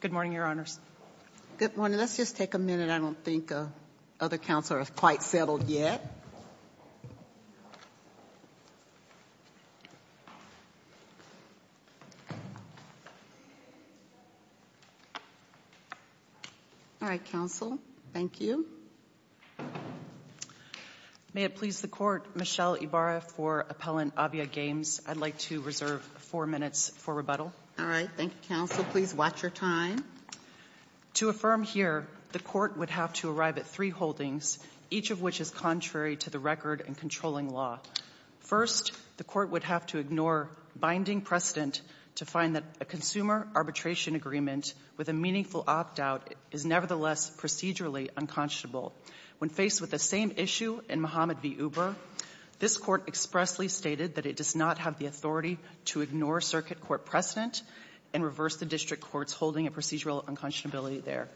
Good morning, Your Honors. Good morning. Let's just take a minute. I don't think other counselors are quite settled yet. All right, counsel. Thank you. May it please the Court, Michelle Ibarra for Appellant AviaGames. I'd like to reserve four minutes for rebuttal. All right. Thank you, counsel. Please watch your time. To affirm here, the Court would have to arrive at three holdings, each of which is contrary to the record and controlling law. First, the Court would have to ignore binding precedent to find that a consumer arbitration agreement with a meaningful opt-out is nevertheless procedurally unconscionable. When faced with the same issue in Muhammad v. Uber, this Court expressly stated that it does not have the authority to ignore circuit court precedent and reverse the district courts holding a procedural unconscionability there.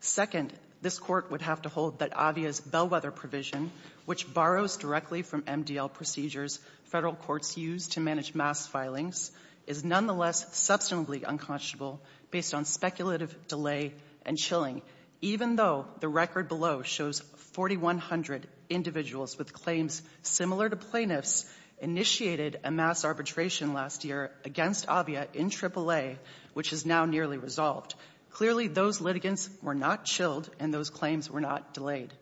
Second, this Court would have to hold that Avia's bellwether provision, which borrows directly from MDL procedures federal courts use to manage mass filings, is nonetheless substantively unconscionable based on speculative delay and chilling, even though the record below shows 4,100 individuals with claims similar to plaintiffs initiated a mass arbitration last year against Avia in AAA, which is now nearly resolved. Clearly, those litigants were not chilled and those claims were not delayed.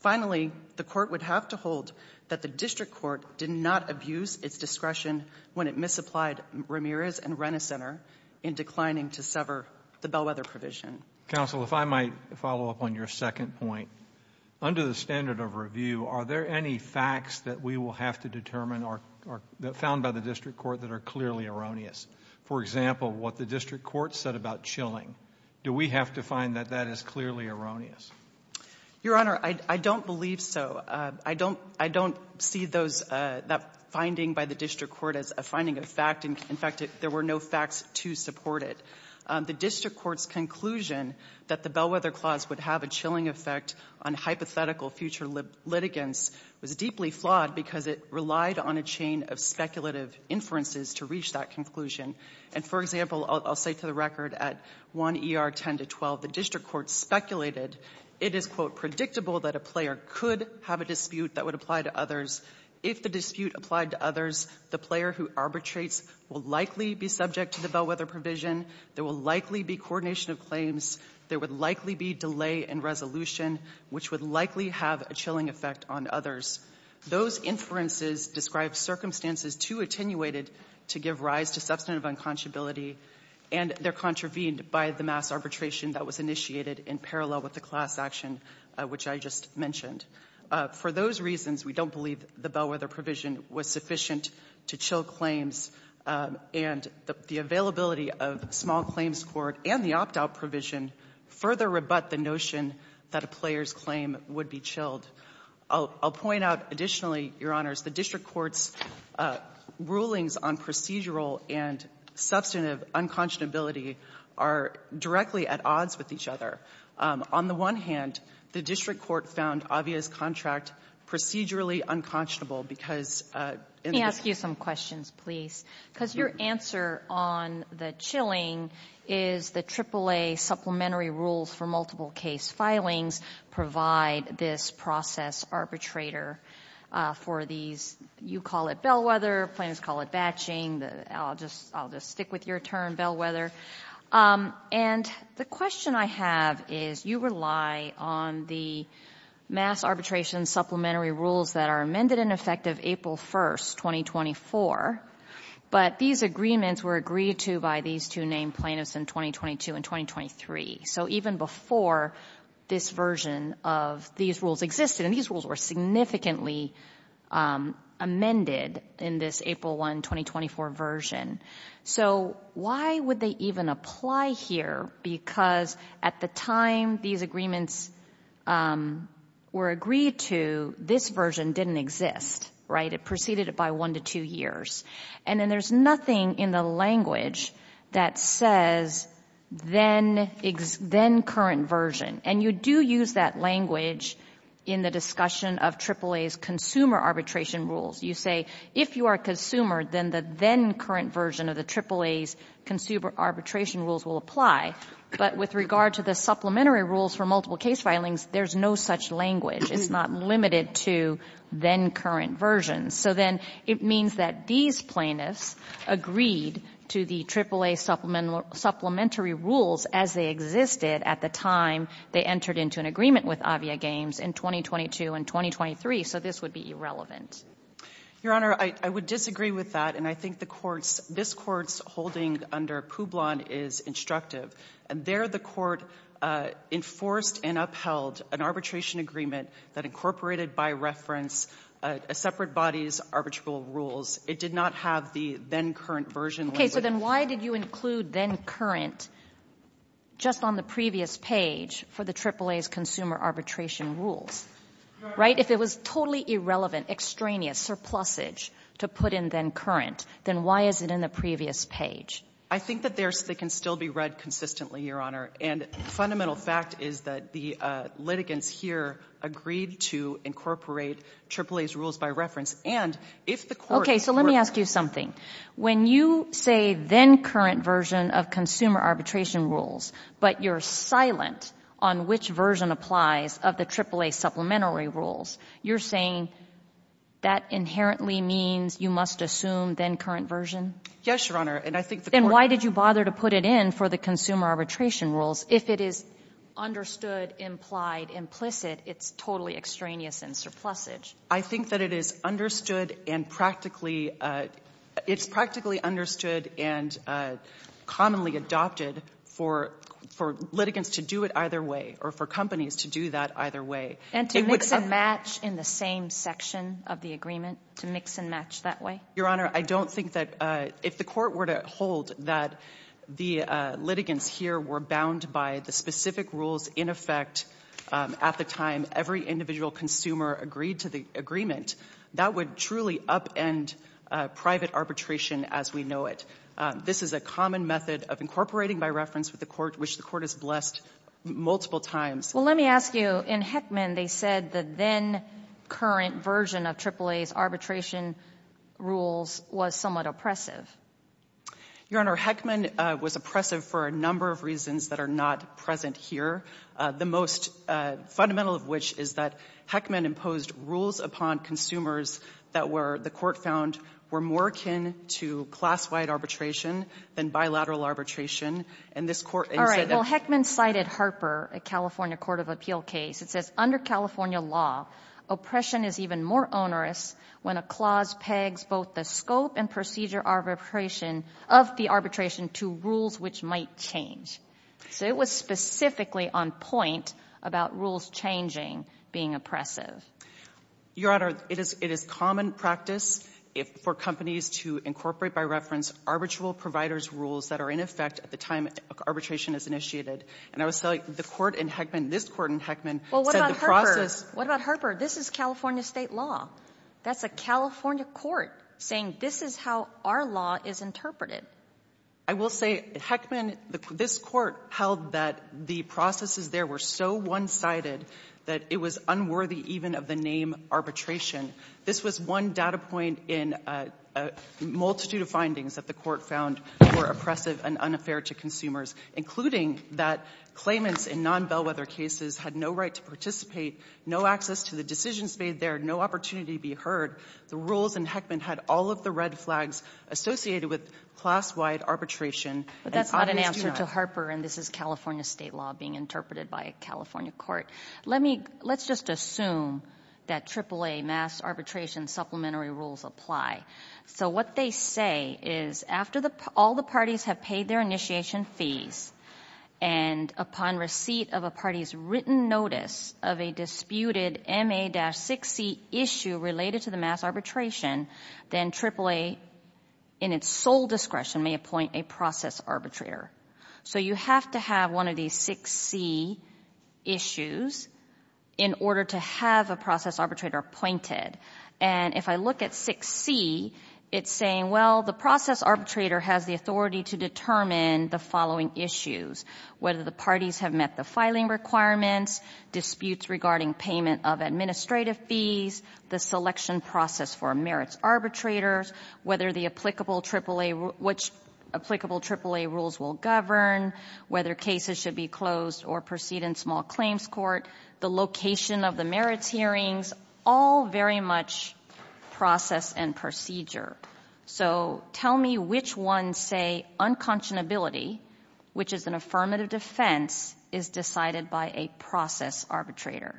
Finally, the Court would have to hold that the district court did not abuse its discretion when it misapplied Ramirez and Renner Center in declining to sever the bellwether provision. Counsel, if I might follow up on your second point. Under the standard of review, are there any facts that we will have to determine or found by the district court that are clearly erroneous? For example, what the district court said about chilling. Do we have to find that that is clearly erroneous? Your Honor, I don't believe so. I don't see that finding by the district court as a finding of fact. In fact, there were no facts to support it. The district court's conclusion that the bellwether clause would have a chilling effect on hypothetical future litigants was deeply flawed because it relied on a chain of speculative inferences to reach that conclusion. And for example, I'll say to the record at 1 ER 10 to 12, the district court speculated it is, quote, predictable that a player could have a dispute that would apply to others. If the dispute applied to others, the player who arbitrates will likely be subject to the will likely be coordination of claims. There would likely be delay in resolution, which would likely have a chilling effect on others. Those inferences describe circumstances too attenuated to give rise to substantive unconscionability and they're contravened by the mass arbitration that was initiated in parallel with the class action, which I just mentioned. For those reasons, we don't believe the bellwether provision was sufficient to chill claims. And the availability of small claims court and the opt-out provision further rebut the notion that a player's claim would be chilled. I'll point out additionally, Your Honors, the district court's rulings on procedural and substantive unconscionability are directly at odds with each other. On the one hand, the district court found Avia's contract procedurally unconscionable because in the some questions, please. Because your answer on the chilling is the AAA supplementary rules for multiple case filings provide this process arbitrator for these, you call it bellwether, plans call it batching. I'll just stick with your term, bellwether. And the question I have is you rely on the mass arbitration supplementary rules that are amended in effect of April 1st, 2024. But these agreements were agreed to by these two named plaintiffs in 2022 and 2023. So even before this version of these rules existed, and these rules were significantly amended in this April 1, 2024 version. So why would they even apply here? Because at the time these agreements were agreed to, this version didn't exist, right? It preceded it by one to two years. And then there's nothing in the language that says then current version. And you do use that language in the discussion of AAA's consumer arbitration rules. You say, if you are a consumer, then the then current version of the AAA's consumer arbitration rules will apply. But with regard to the supplementary rules for multiple case filings, there's no such language. It's not limited to then current version. So then it means that these plaintiffs agreed to the AAA supplementary rules as they existed at the time they entered into an agreement with Avia Games in 2022 and 2023. So this would be irrelevant. Your Honor, I would disagree with that. I think this Court's holding under Publon is instructive. And there the Court enforced and upheld an arbitration agreement that incorporated by reference a separate body's arbitral rules. It did not have the then current version language. So then why did you include then current just on the previous page for the AAA's consumer arbitration rules, right? If it was totally irrelevant, extraneous, surplusage to put in then current, then why is it in the previous page? I think that they can still be read consistently, Your Honor. And fundamental fact is that the litigants here agreed to incorporate AAA's rules by reference. And if the Court— Okay, so let me ask you something. When you say then current version of consumer arbitration rules, but you're silent on which version applies of the AAA supplementary rules, you're saying that inherently means you must assume then current version? Yes, Your Honor. And I think the Court— Then why did you bother to put it in for the consumer arbitration rules? If it is understood, implied, implicit, it's totally extraneous and surplusage. I think that it is understood and practically — it's practically understood and commonly adopted for litigants to do it either way or for companies to do that either way. And to mix and match in the same section of the agreement? To mix and match that way? Your Honor, I don't think that — if the Court were to hold that the litigants here were bound by the specific rules in effect at the time every individual consumer agreed to the agreement, that would truly upend private arbitration as we know it. This is a common method of incorporating by reference with the Court, which the Court has blessed multiple times. Well, let me ask you, in Heckman, they said the then current version of AAA's arbitration rules was somewhat oppressive. Your Honor, Heckman was oppressive for a number of reasons that are not present here, the most fundamental of which is that Heckman imposed rules upon consumers that were — the Court found were more akin to class-wide arbitration than bilateral arbitration. And this Court — All right. Well, Heckman cited Harper, a California court of appeal case. It says, under California law, oppression is even more onerous when a clause pegs both the scope and procedure arbitration of the arbitration to rules which might change. So it was specifically on point about rules changing being oppressive. Your Honor, it is common practice for companies to incorporate by reference arbitral providers' rules that are in effect at the time arbitration is initiated. And I would say the Court in Heckman — this Court in Heckman said the process — What about Harper? This is California state law. That's a California court saying this is how our law is interpreted. I will say, at Heckman, this Court held that the processes there were so one-sided that it was unworthy even of the name arbitration. This was one data point in a multitude of findings that the Court found were oppressive and unfair to consumers, including that claimants in non-bellwether cases had no right to participate, no access to the decisions made there, no opportunity to be heard. The rules in Heckman had all of the red flags associated with class-wide arbitration. But that's not an answer to Harper, and this is California state law being interpreted by a California court. Let's just assume that AAA, mass arbitration supplementary rules, apply. So what they say is after all the parties have paid their initiation fees and upon receipt of a party's written notice of a disputed MA-6C issue related to the mass arbitration, then AAA, in its sole discretion, may appoint a process arbitrator. So you have to have one of these 6C issues in order to have a process arbitrator appointed. And if I look at 6C, it's saying, well, the process arbitrator has the authority to determine the following issues, whether the parties have met the filing requirements, disputes regarding payment of administrative fees, the selection process for merits arbitrators, whether the applicable AAA, which applicable AAA rules will govern, whether cases should be closed or proceed in small claims court, the location of the merits hearings, all very much process and procedure. So tell me which one, say, unconscionability, which is an affirmative defense, is decided by a process arbitrator.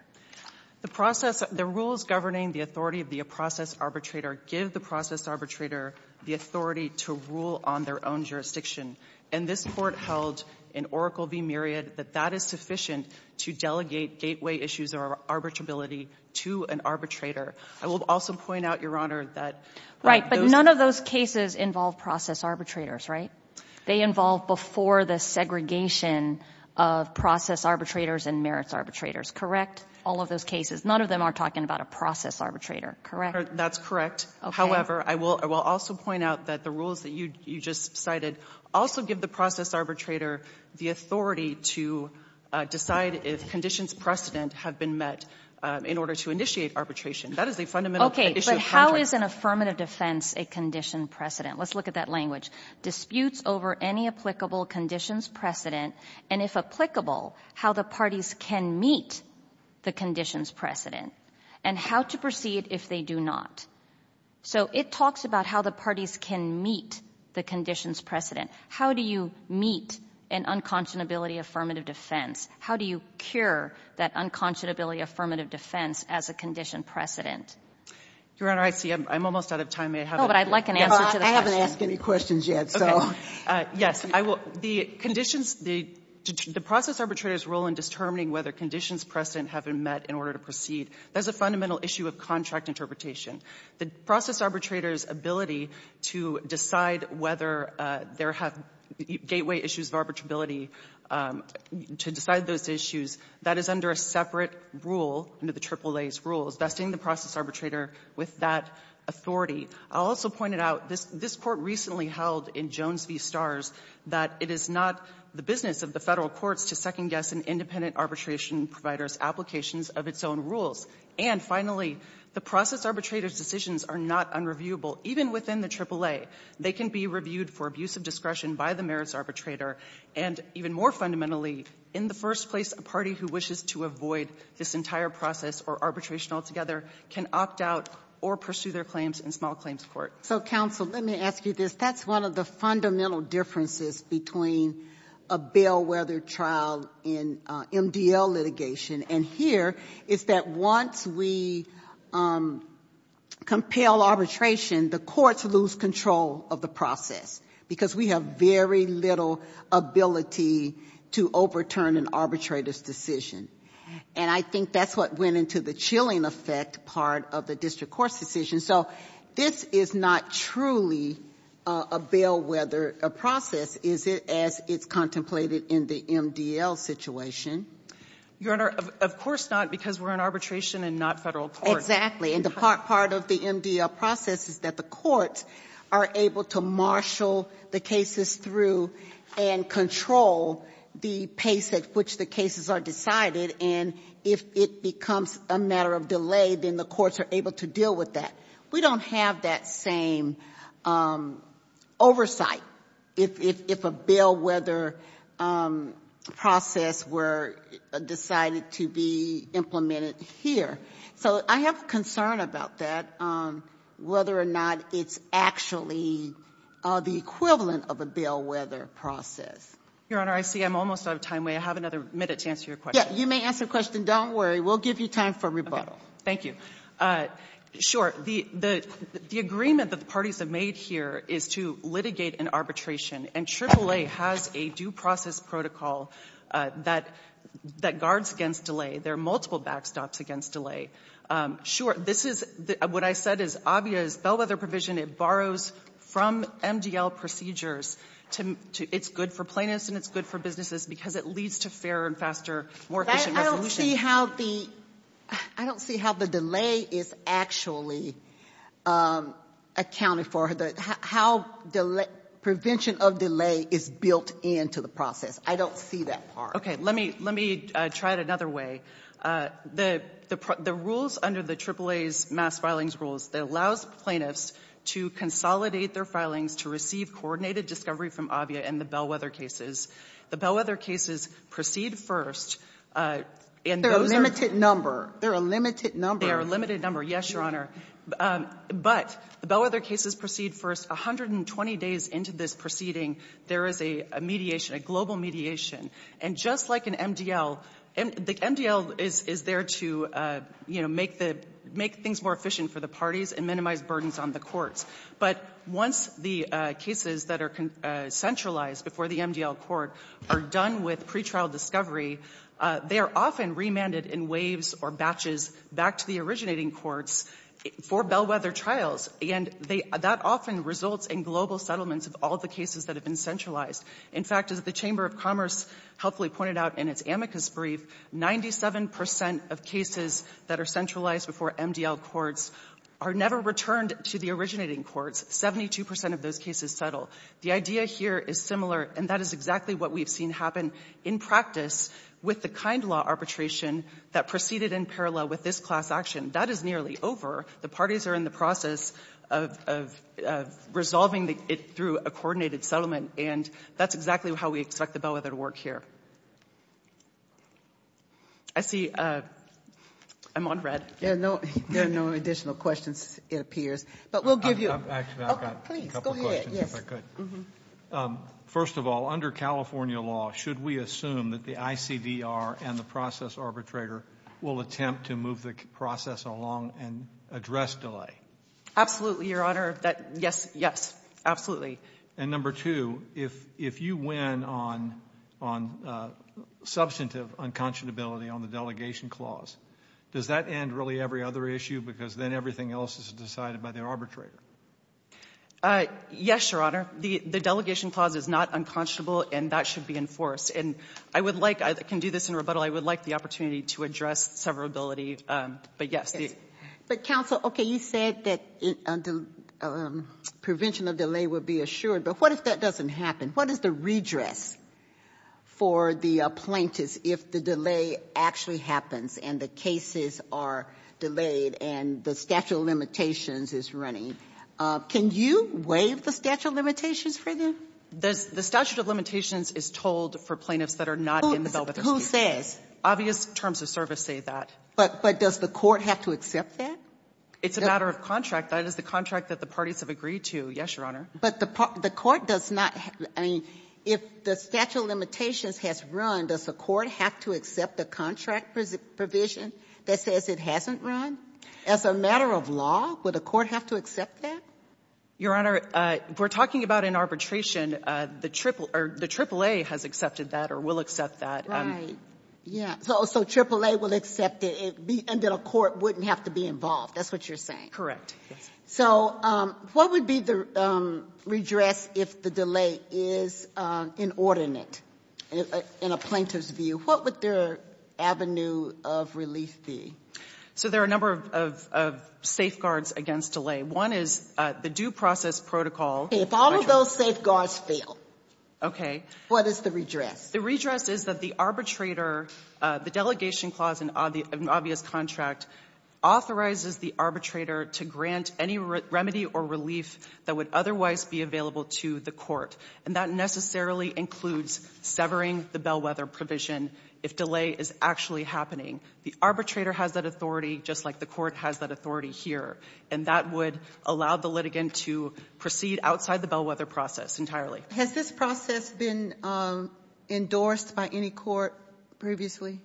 The process — the rules governing the authority of the process arbitrator give the process arbitrator the authority to rule on their own jurisdiction. And this Court held in Oracle v. Myriad that that is sufficient to delegate gateway issues or arbitrability to an arbitrator. I will also point out, Your Honor, that — Right. But none of those cases involve process arbitrators, right? They involve before the segregation of process arbitrators and merits arbitrators, correct? All of those cases, none of them are talking about a process arbitrator, correct? That's correct. However, I will also point out that the rules that you just cited also give the process arbitrator the authority to decide if conditions precedent have been met in order to initiate arbitration. That is a fundamental issue of Congress. Is an affirmative defense a conditioned precedent? Let's look at that language. Disputes over any applicable conditions precedent and, if applicable, how the parties can meet the conditions precedent and how to proceed if they do not. So it talks about how the parties can meet the conditions precedent. How do you meet an unconscionability affirmative defense? How do you cure that unconscionability affirmative defense as a conditioned precedent? Your Honor, I see I'm almost out of time. Oh, but I'd like an answer to the question. I haven't asked any questions yet, so. Yes, I will. The conditions — the process arbitrator's role in determining whether conditions precedent have been met in order to proceed, that's a fundamental issue of contract interpretation. The process arbitrator's ability to decide whether there have — gateway issues of arbitrability, to decide those issues, that is under a separate rule, under the AAA's rules, vesting the process arbitrator with that authority. I'll also point it out, this Court recently held in Jones v. Starrs that it is not the business of the Federal courts to second-guess an independent arbitration provider's applications of its own rules. And finally, the process arbitrator's decisions are not unreviewable. Even within the AAA, they can be reviewed for abuse of discretion by the merits arbitrator, and even more fundamentally, in the first place, a party who wishes to avoid this entire process or arbitration altogether can opt out or pursue their claims in small claims court. So, counsel, let me ask you this. That's one of the fundamental differences between a bellwether trial and MDL litigation. And here, it's that once we compel arbitration, the courts lose control of the process because we have very little ability to overturn an arbitrator's decision. And I think that's what went into the chilling effect part of the district court's decision. So, this is not truly a bellwether process, is it, as it's contemplated in the MDL situation? Your Honor, of course not, because we're in arbitration and not Federal court. Exactly. And part of the MDL process is that the courts are able to marshal the cases through and control the pace at which the cases are decided. And if it becomes a matter of delay, then the courts are able to deal with that. We don't have that same oversight if a bellwether process were decided to be implemented here. So, I have a concern about that, whether or not it's actually the equivalent of a bellwether process. Your Honor, I see I'm almost out of time. May I have another minute to answer your question? You may ask a question. Don't worry. We'll give you time for rebuttal. Thank you. Sure. The agreement that the parties have made here is to litigate an arbitration. And AAA has a due process protocol that guards against delay. There are multiple backstops against delay. Sure. This is what I said is obvious bellwether provision. It borrows from MDL procedures. It's good for plaintiffs and it's good for businesses because it leads to fairer and faster, more efficient resolution. I don't see how the delay is actually accounted for, how prevention of delay is built into the process. I don't see that part. Okay. Let me try it another way. The rules under the AAA's mass filings rules that allows plaintiffs to consolidate their filings to receive coordinated discovery from AVIA and the bellwether cases. The bellwether cases proceed first. They're a limited number. They're a limited number. They are a limited number. Yes, Your Honor. But the bellwether cases proceed first. 120 days into this proceeding, there is a mediation, a global mediation. And just like an MDL, the MDL is there to make things more efficient for the parties and minimize burdens on the courts. But once the cases that are centralized before the MDL court are done with pretrial discovery, they are often remanded in waves or batches back to the originating courts for bellwether trials. And that often results in global settlements of all the cases that have been centralized. In fact, as the Chamber of Commerce helpfully pointed out in its amicus brief, 97 percent of cases that are centralized before MDL courts are never returned to the originating courts. 72 percent of those cases settle. The idea here is similar, and that is exactly what we've seen happen in practice with the kind law arbitration that proceeded in parallel with this class action. That is nearly over. The parties are in the process of resolving it through a coordinated settlement. And that's exactly how we expect the bellwether to work here. I see I'm on read. There are no additional questions, it appears. But we'll give you a couple questions, if I could. First of all, under California law, should we assume that the ICDR and the process arbitrator will attempt to move the process along and address delay? Absolutely, Your Honor. Yes, yes, absolutely. And number two, if you win on substantive unconscionability on the delegation clause, does that end really every other issue? Because then everything else is decided by the arbitrator. Yes, Your Honor. The delegation clause is not unconscionable, and that should be enforced. And I would like, I can do this in rebuttal, I would like the opportunity to address severability. But yes. But counsel, OK, you said that the prevention of delay would be assured. But what if that doesn't happen? What is the redress for the plaintiffs if the delay actually happens and the cases are delayed and the statute of limitations is running? Can you waive the statute of limitations for them? The statute of limitations is told for plaintiffs that are not in the bellwether. Who says? Obvious terms of service say that. But does the court have to accept that? It's a matter of contract. That is the contract that the parties have agreed to. Yes, Your Honor. But the court does not, I mean, if the statute of limitations has run, does the court have to accept the contract provision that says it hasn't run? As a matter of law, would the court have to accept that? Your Honor, we're talking about an arbitration. The AAA has accepted that or will accept that. Yeah, so AAA will accept it and then a court wouldn't have to be involved. That's what you're saying. So what would be the redress if the delay is inordinate in a plaintiff's view? What would their avenue of relief be? So there are a number of safeguards against delay. One is the due process protocol. If all of those safeguards fail, what is the redress? The redress is that the arbitrator, the delegation clause in an obvious contract, authorizes the arbitrator to grant any remedy or relief that would otherwise be available to the court. And that necessarily includes severing the bellwether provision if delay is actually happening. The arbitrator has that authority just like the court has that authority here. And that would allow the litigant to proceed outside the bellwether process entirely. Has this process been endorsed by any court previously?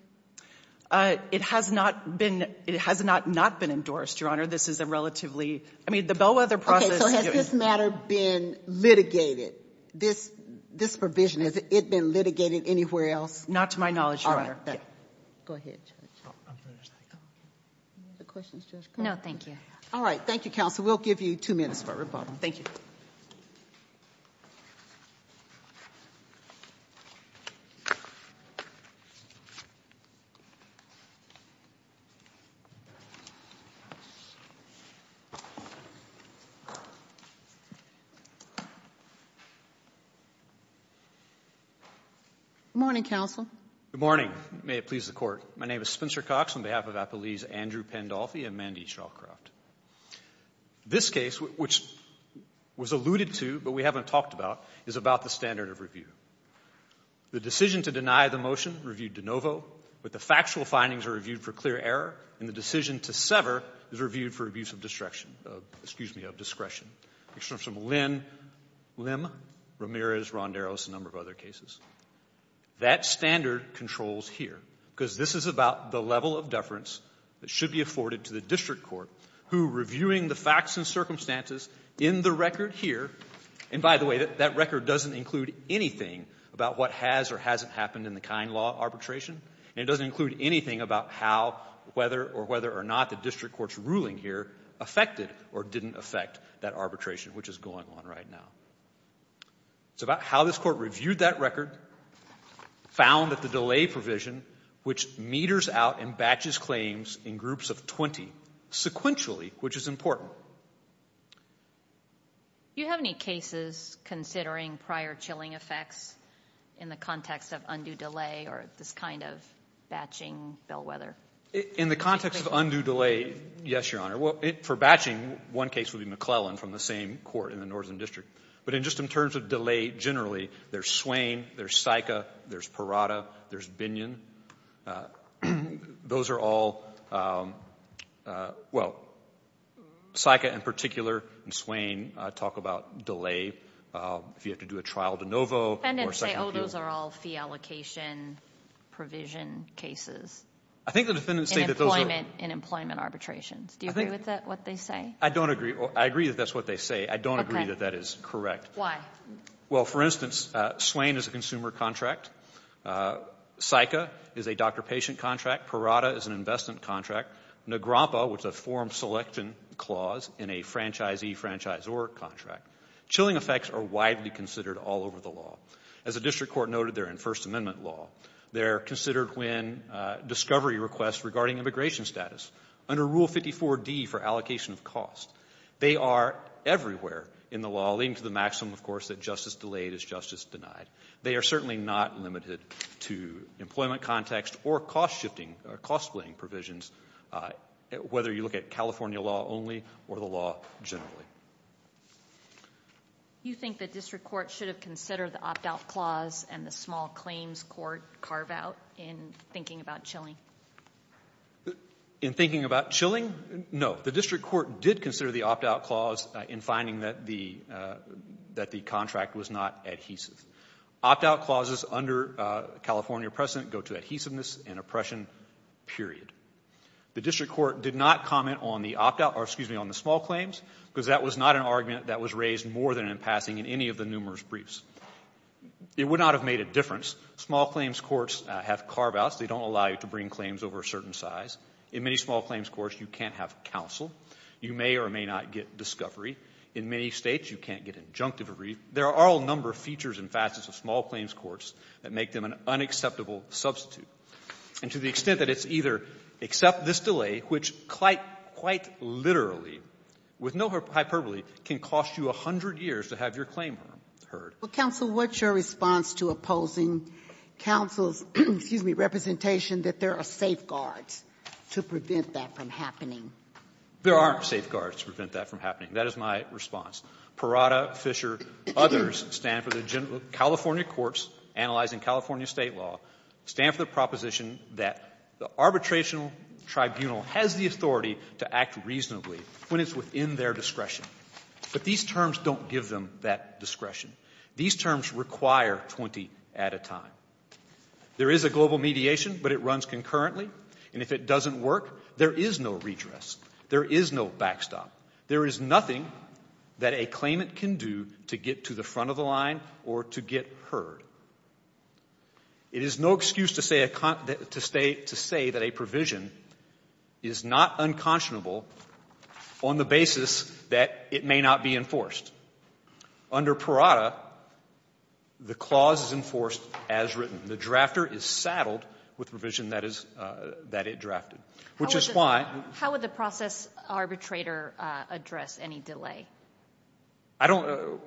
It has not been. It has not not been endorsed, Your Honor. This is a relatively, I mean, the bellwether process. So has this matter been litigated, this provision? Has it been litigated anywhere else? Not to my knowledge, Your Honor. Go ahead, Judge. No, thank you. All right. Thank you, counsel. We'll give you two minutes for rebuttal. Thank you. Good morning, counsel. Good morning. May it please the Court. My name is Spencer Cox on behalf of Appalese Andrew Pendolfi and Mandy Shawcroft. This case, which was alluded to but we haven't talked about, is about the standard of review. The decision to deny the motion, reviewed de novo, but the factual findings are reviewed for clear error, and the decision to sever is reviewed for abuse of discretion, excuse me, of discretion. It comes from Lim, Ramirez, Ronderos, a number of other cases. That standard controls here because this is about the level of deference that should be who reviewing the facts and circumstances in the record here, and by the way, that record doesn't include anything about what has or hasn't happened in the kind law arbitration, and it doesn't include anything about how whether or whether or not the district court's ruling here affected or didn't affect that arbitration, which is going on right now. It's about how this Court reviewed that record, found that the delay provision, which meters out and batches claims in groups of 20 sequentially, which is important. You have any cases considering prior chilling effects in the context of undue delay or this kind of batching bellwether? In the context of undue delay, yes, Your Honor. Well, for batching, one case would be McClellan from the same court in the northern district, but just in terms of delay generally, there's Swain, there's Sika, there's Binion. Those are all, well, Sika in particular and Swain talk about delay, if you have to do a trial de novo or second appeal. The defendants say, oh, those are all fee allocation provision cases in employment arbitrations. Do you agree with that, what they say? I don't agree. I agree that that's what they say. I don't agree that that is correct. Why? Well, for instance, Swain is a consumer contract. Sika is a doctor-patient contract. Parada is an investment contract. Negrompa was a form selection clause in a franchisee-franchisor contract. Chilling effects are widely considered all over the law. As the district court noted, they're in First Amendment law. They're considered when discovery requests regarding immigration status under Rule 54D for allocation of cost. They are everywhere in the law, leading to the maximum, of course, that justice delayed is justice denied. They are certainly not limited to employment context or cost-shifting or cost-playing provisions, whether you look at California law only or the law generally. You think the district court should have considered the opt-out clause and the small claims court carve-out in thinking about Chilling? In thinking about Chilling? No. The district court did consider the opt-out clause in finding that the contract was not adhesive. Opt-out clauses under California precedent go to adhesiveness and oppression, period. The district court did not comment on the opt-out or, excuse me, on the small claims because that was not an argument that was raised more than in passing in any of the numerous briefs. It would not have made a difference. Small claims courts have carve-outs. They don't allow you to bring claims over a certain size. In many small claims courts, you can't have counsel. You may or may not get discovery. In many States, you can't get injunctive. There are a number of features and facets of small claims courts that make them an unacceptable substitute, and to the extent that it's either accept this delay, which quite literally, with no hyperbole, can cost you a hundred years to have your claim heard. Well, counsel, what's your response to opposing counsel's, excuse me, representation that there are safeguards to prevent that from happening? There aren't safeguards to prevent that from happening. That is my response. Parada, Fischer, others stand for the California courts, analyzing California State law, stand for the proposition that the arbitration tribunal has the authority to act reasonably when it's within their discretion. But these terms don't give them that discretion. These terms require 20 at a time. There is a global mediation, but it runs concurrently, and if it doesn't work, there is no redress. There is no backstop. There is nothing that a claimant can do to get to the front of the line or to get heard. It is no excuse to say that a provision is not unconscionable on the basis that it may not be enforced. Under Parada, the clause is enforced as written. The drafter is saddled with provision that it drafted, which is why — How would the process arbitrator address any delay? I don't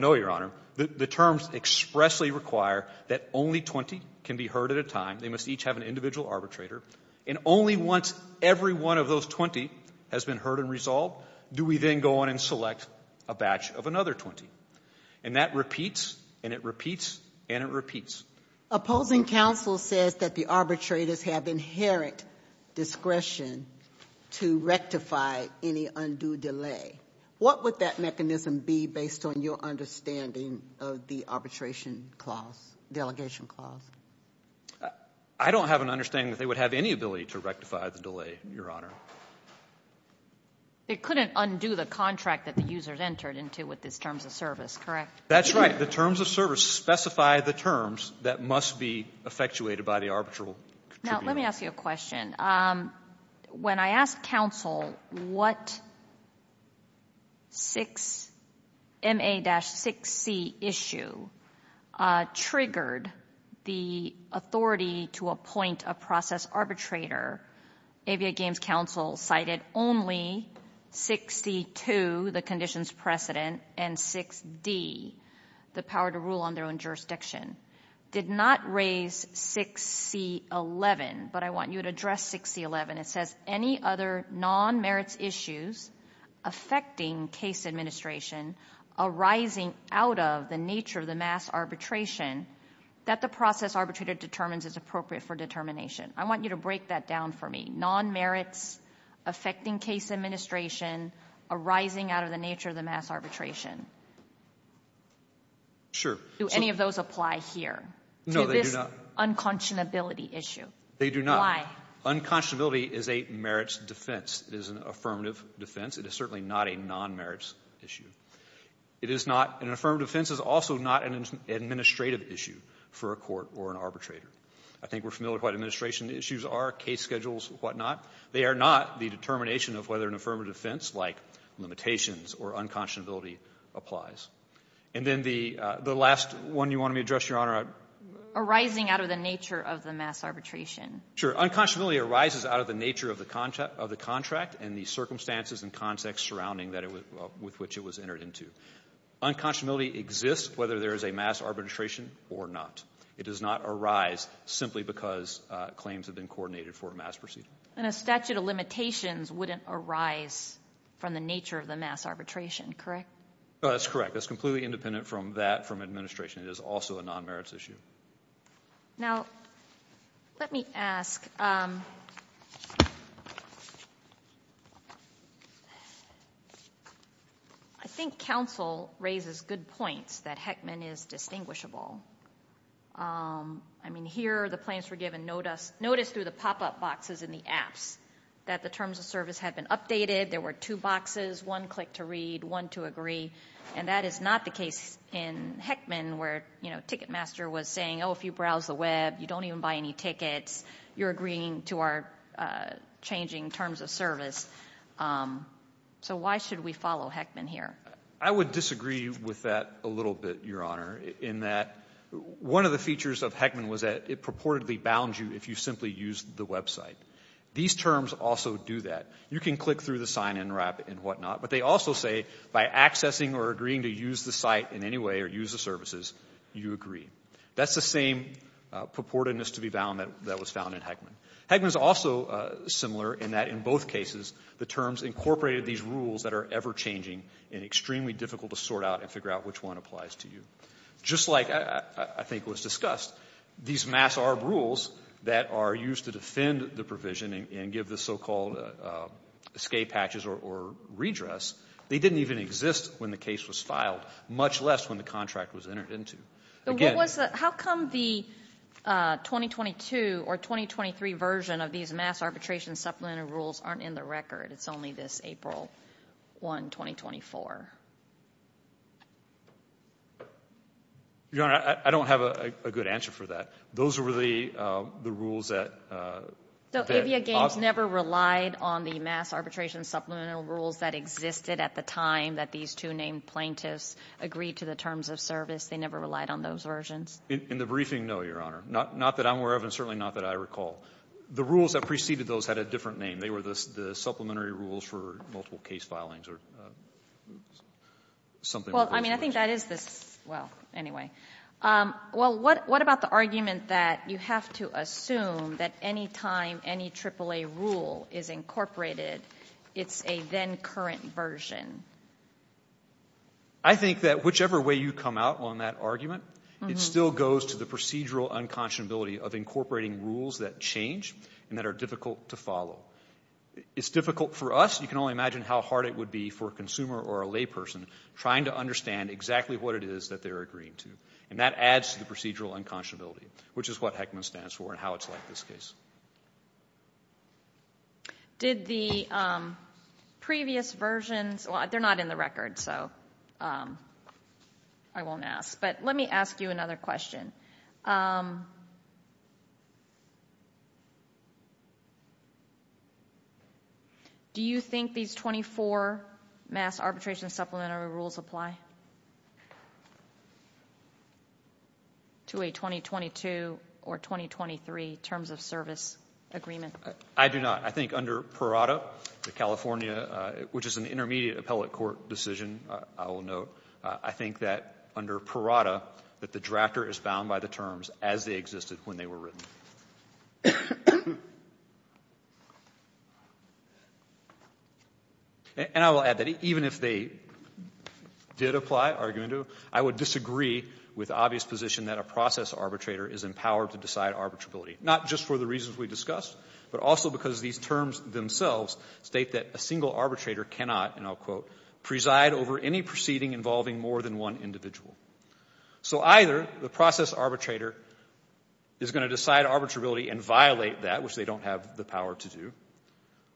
know, Your Honor. The terms expressly require that only 20 can be heard at a time. They must each have an individual arbitrator. And only once every one of those 20 has been heard and resolved do we then go on and select a batch of another 20. And that repeats, and it repeats, and it repeats. Opposing counsel says that the arbitrators have inherent discretion to rectify any undue delay. What would that mechanism be based on your understanding of the arbitration clause, delegation clause? I don't have an understanding that they would have any ability to rectify the delay, Your Honor. It couldn't undo the contract that the users entered into with these terms of service, correct? That's right. The terms of service specify the terms that must be effectuated by the arbitral contributor. Now, let me ask you a question. When I asked counsel what 6MA-6C issue triggered the authority to appoint a process arbitrator, ABA Games counsel cited only 6C-2, the conditions precedent, and 6D, the power to rule on their own jurisdiction. Did not raise 6C-11, but I want you to address 6C-11. It says any other non-merits issues affecting case administration arising out of the nature of the mass arbitration that the process arbitrator determines is appropriate for determination. I want you to break that down for me. Non-merits affecting case administration arising out of the nature of the mass arbitration. Do any of those apply here? No, they do not. To this unconscionability issue? They do not. Unconscionability is a merits defense. It is an affirmative defense. It is certainly not a non-merits issue. It is not an affirmative defense. It is also not an administrative issue for a court or an arbitrator. I think we're familiar with what administration is. case schedules, whatnot. They are not the determination of whether an affirmative defense like limitations or unconscionability applies. And then the last one you wanted me to address, Your Honor. Arising out of the nature of the mass arbitration. Sure. Unconscionability arises out of the nature of the contract and the circumstances and context surrounding with which it was entered into. Unconscionability exists whether there is a mass arbitration or not. It does not arise simply because claims have been coordinated for a mass proceeding. And a statute of limitations wouldn't arise from the nature of the mass arbitration, correct? That's correct. That's completely independent from that, from administration. It is also a non-merits issue. Now, let me ask. I think counsel raises good points that Heckman is distinguishable. I mean, here the plans were given notice through the pop-up boxes in the apps that the terms of service had been updated. There were two boxes, one click to read, one to agree. And that is not the case in Heckman where, you know, Ticketmaster was saying, oh, if you browse the web, you don't even buy any tickets. You're agreeing to our changing terms of service. So why should we follow Heckman here? I would disagree with that a little bit, Your Honor, in that one of the features of Heckman was that it purportedly bounds you if you simply use the website. These terms also do that. You can click through the sign-in wrap and whatnot, but they also say by accessing or agreeing to use the site in any way or use the services, you agree. That's the same purportedness to be bound that was found in Heckman. Heckman is also similar in that in both cases, the terms incorporated these rules that are ever-changing and extremely difficult to sort out and figure out which one applies to you. Just like I think was discussed, these mass ARB rules that are used to defend the provision and give the so-called escape hatches or redress, they didn't even exist when the case was filed, much less when the contract was entered into. How come the 2022 or 2023 version of these mass arbitration supplemented rules aren't in the record? It's only this April 1, 2024. Your Honor, I don't have a good answer for that. Those were the rules that... So Avia Games never relied on the mass arbitration supplemental rules that existed at the time that these two named plaintiffs agreed to the terms of service. They never relied on those versions? In the briefing, no, Your Honor. Not that I'm aware of and certainly not that I recall. The rules that preceded those had a different name. They were the supplementary rules for multiple case filings or something. Well, I mean, I think that is this... Well, anyway. Well, what about the argument that you have to assume that any time any AAA rule is incorporated, it's a then-current version? I think that whichever way you come out on that argument, it still goes to the procedural unconscionability of incorporating rules that change and that are difficult to follow. It's difficult for us. You can only imagine how hard it would be for a consumer or a layperson trying to understand exactly what it is that they're agreeing to. And that adds to the procedural unconscionability, which is what Heckman stands for and how it's like in this case. Did the previous versions... Well, they're not in the record, so I won't ask. But let me ask you another question. Do you think these 24 mass arbitration supplementary rules apply... ...to a 2022 or 2023 terms of service agreement? I do not. I think under PIRATA, the California... Which is an intermediate appellate court decision, I will note. I think that under PIRATA, that the drafter is bound by the terms as they existed when they were written. And I will add that even if they did apply, argue into, I would disagree with the obvious position that a process arbitrator is empowered to decide arbitrability. Not just for the reasons we discussed, but also because these terms themselves state that a single arbitrator cannot, and I'll quote, preside over any proceeding involving more than one individual. So either the process arbitrator is going to decide arbitrability and violate that, which they don't have the power to do,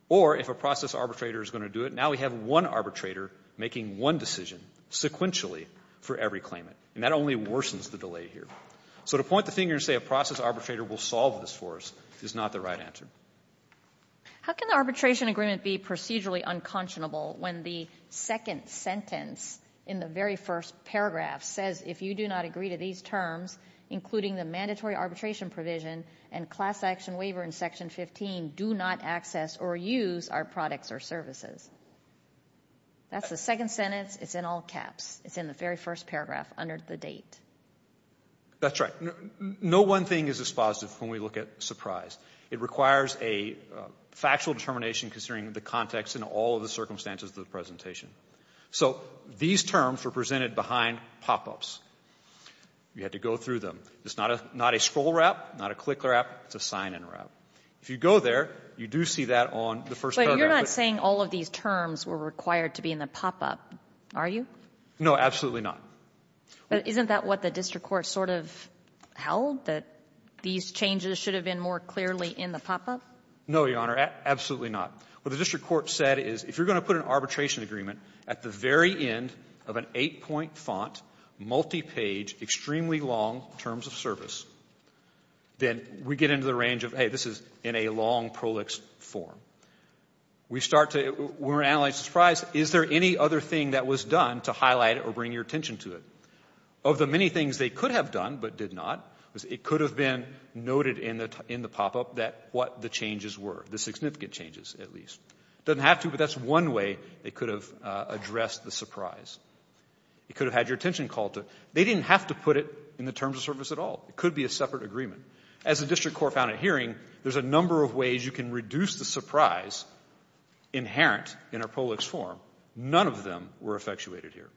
or if a process arbitrator is going to do it, now we have one arbitrator making one decision sequentially for every claimant. And that only worsens the delay here. So to point the finger and say a process arbitrator will solve this for us is not the right answer. How can the arbitration agreement be procedurally unconscionable when the second sentence in the very first paragraph says if you do not agree to these terms, including the mandatory arbitration provision and class action waiver in section 15, do not access or use our products or services? That's the second sentence, it's in all caps. It's in the very first paragraph under the date. That's right. No one thing is dispositive when we look at surprise. It requires a factual determination considering the context and all of the circumstances of the presentation. So these terms were presented behind pop-ups. You had to go through them. It's not a scroll wrap, not a click wrap, it's a sign-in wrap. If you go there, you do see that on the first paragraph. But you're not saying all of these terms were required to be in the pop-up, are you? No, absolutely not. But isn't that what the district court sort of held, that these changes should have been more clearly in the pop-up? No, Your Honor, absolutely not. What the district court said is, if you're going to put an arbitration agreement at the very end of an eight-point font, multi-page, extremely long terms of service, then we get into the range of, hey, this is in a long prolix form. We start to analyze the surprise. Is there any other thing that was done to highlight it or bring your attention to it? Of the many things they could have done but did not, it could have been noted in the pop-up what the changes were, the significant changes, at least. It doesn't have to, but that's one way they could have addressed the surprise. It could have had your attention called to it. They didn't have to put it in the terms of service at all. It could be a separate agreement. As the district court found at hearing, there's a number of ways you can reduce the surprise inherent in a prolix form. None of them were effectuated here.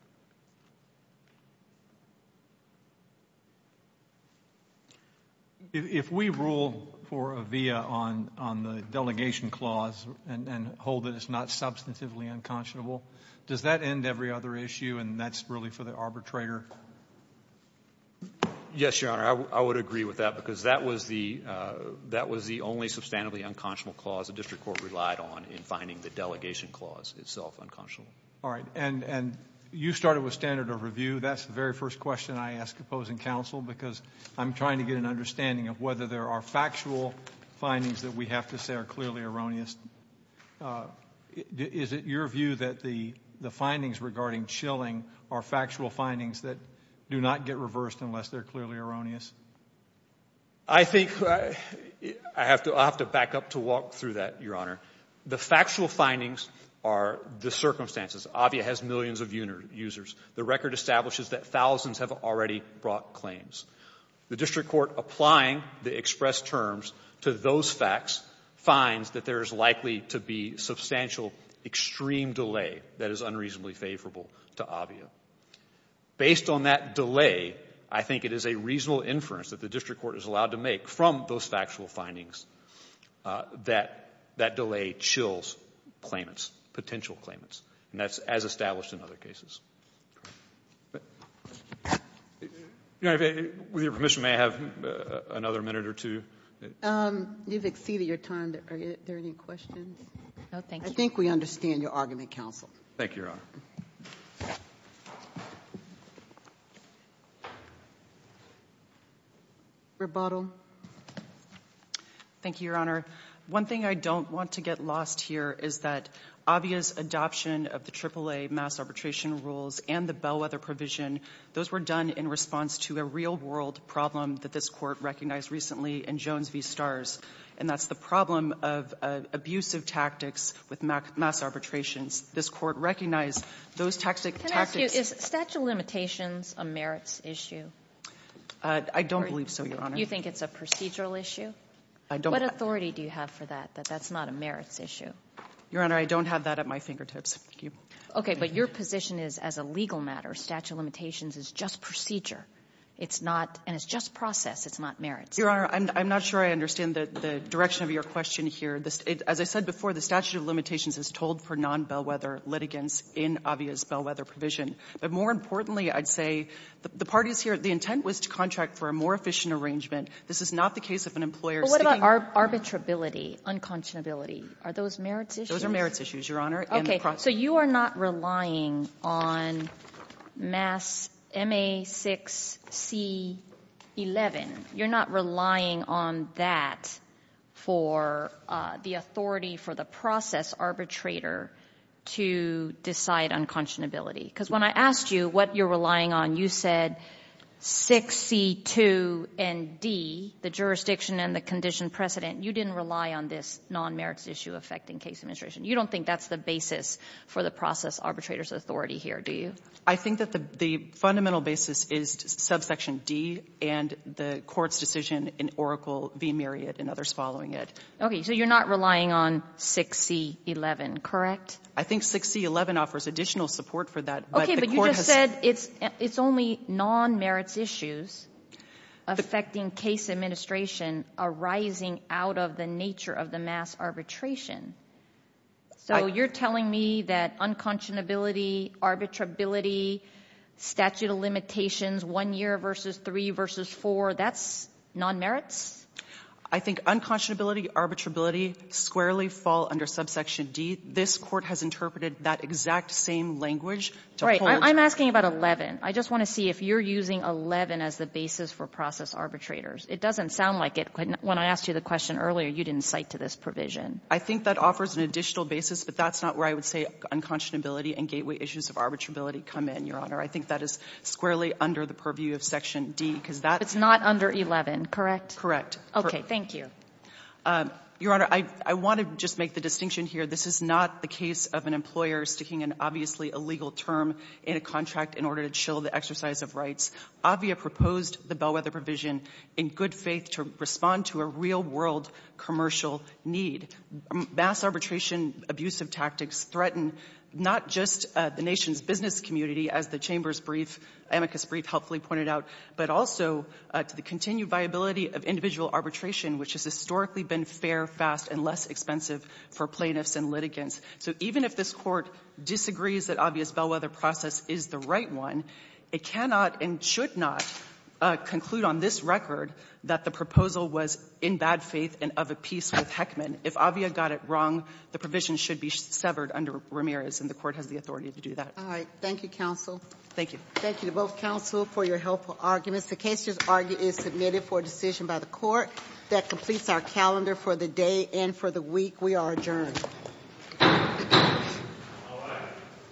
If we rule for a via on the delegation clause and hold that it's not substantively unconscionable, does that end every other issue and that's really for the arbitrator? Yes, Your Honor, I would agree with that because that was the only substantively unconscionable clause the district court relied on in finding the delegation clause itself unconscionable. All right, and you started with standard of review. That's the very first question I ask opposing counsel because I'm trying to get an understanding of whether there are factual findings that we have to say are clearly erroneous. Is it your view that the findings regarding chilling are factual findings that do not get reversed unless they're clearly erroneous? I think I have to back up to walk through that, Your Honor. The factual findings are the circumstances. AVIA has millions of users. The record establishes that thousands have already brought claims. The district court applying the expressed terms to those facts finds that there is likely to be substantial extreme delay that is unreasonably favorable to AVIA. Based on that delay, I think it is a reasonable inference that the district court is allowed to make from those factual findings that that delay chills claimants, potential claimants. And that's as established in other cases. Your Honor, with your permission, may I have another minute or two? You've exceeded your time. Are there any questions? I think we understand your argument, counsel. Thank you, Your Honor. Rebuttal. Thank you, Your Honor. One thing I don't want to get lost here is that AVIA's adoption of the AAA mass arbitration rules and the bellwether provision, those were done in response to a real-world problem that this court recognized recently in Jones v. Starrs, and that's the problem of abusive tactics with mass arbitrations. This court recognized that this court Can I ask you, is statute of limitations a merits issue? I don't believe so, Your Honor. You think it's a procedural issue? What authority do you have for that, that that's not a merits issue? Your Honor, I don't have that at my fingertips. Okay, but your position is, as a legal matter, statute of limitations is just procedure. It's not, and it's just process. It's not merits. Your Honor, I'm not sure I understand the direction of your question here. As I said before, the statute of limitations is told for non-bellwether litigants in AVIA's bellwether provision. But more importantly, I'd say, the parties here, the intent was to contract for a more efficient arrangement. This is not the case of an employer... But what about arbitrability, unconscionability? Are those merits issues? Those are merits issues, Your Honor. Okay, so you are not relying on mass MA6C11. You're not relying on that for the authority for the process arbitration to decide unconscionability. Because when I asked you what you're relying on, you said 6C2 and D, the jurisdiction and the condition precedent, you didn't rely on this non-merits issue affecting case administration. You don't think that's the basis for the process arbitrator's authority here, do you? I think that the fundamental basis is subsection D and the court's decision in Oracle v. Myriad and others following it. Okay, so you're not relying on 6C11 correct? I think 6C11 offers additional support for that. Okay, but you just said it's only non-merits issues affecting case administration arising out of the nature of the mass arbitration. So you're telling me that unconscionability, arbitrability, statute of limitations, one year v. three v. four, that's non-merits? I think unconscionability, arbitrability squarely fall under subsection D. This court has interpreted that exact same language. I'm asking about 11. I just want to see if you're using 11 as the basis for process arbitrators. It doesn't sound like it. When I asked you the question earlier, you didn't cite to this provision. I think that offers an additional basis, but that's not where I would say unconscionability and gateway issues of arbitrability come in, Your Honor. I think that is squarely under the purview of section D. It's not under 11, correct? Your Honor, I want to just make the distinction here. This is not the case of an employer sticking an obviously illegal term in a contract in order to chill the exercise of rights. Avia proposed the Bellwether provision in good faith to respond to a real world commercial need. Mass arbitration abusive tactics threaten not just the nation's business community as the Chamber's brief, amicus brief helpfully pointed out, but also to the continued viability of individual arbitration, which has historically been fair, fast, and less expensive for plaintiffs and litigants. Even if this Court disagrees that Avia's Bellwether process is the right one, it cannot and should not conclude on this record that the proposal was in bad faith and of a piece with Heckman. If Avia got it wrong, the provision should be severed under Ramirez, and the Court has the authority to do that. Thank you to both counsel for your helpful arguments. The case is submitted for a decision by the Court that completes our calendar for the day and for the week. We are adjourned.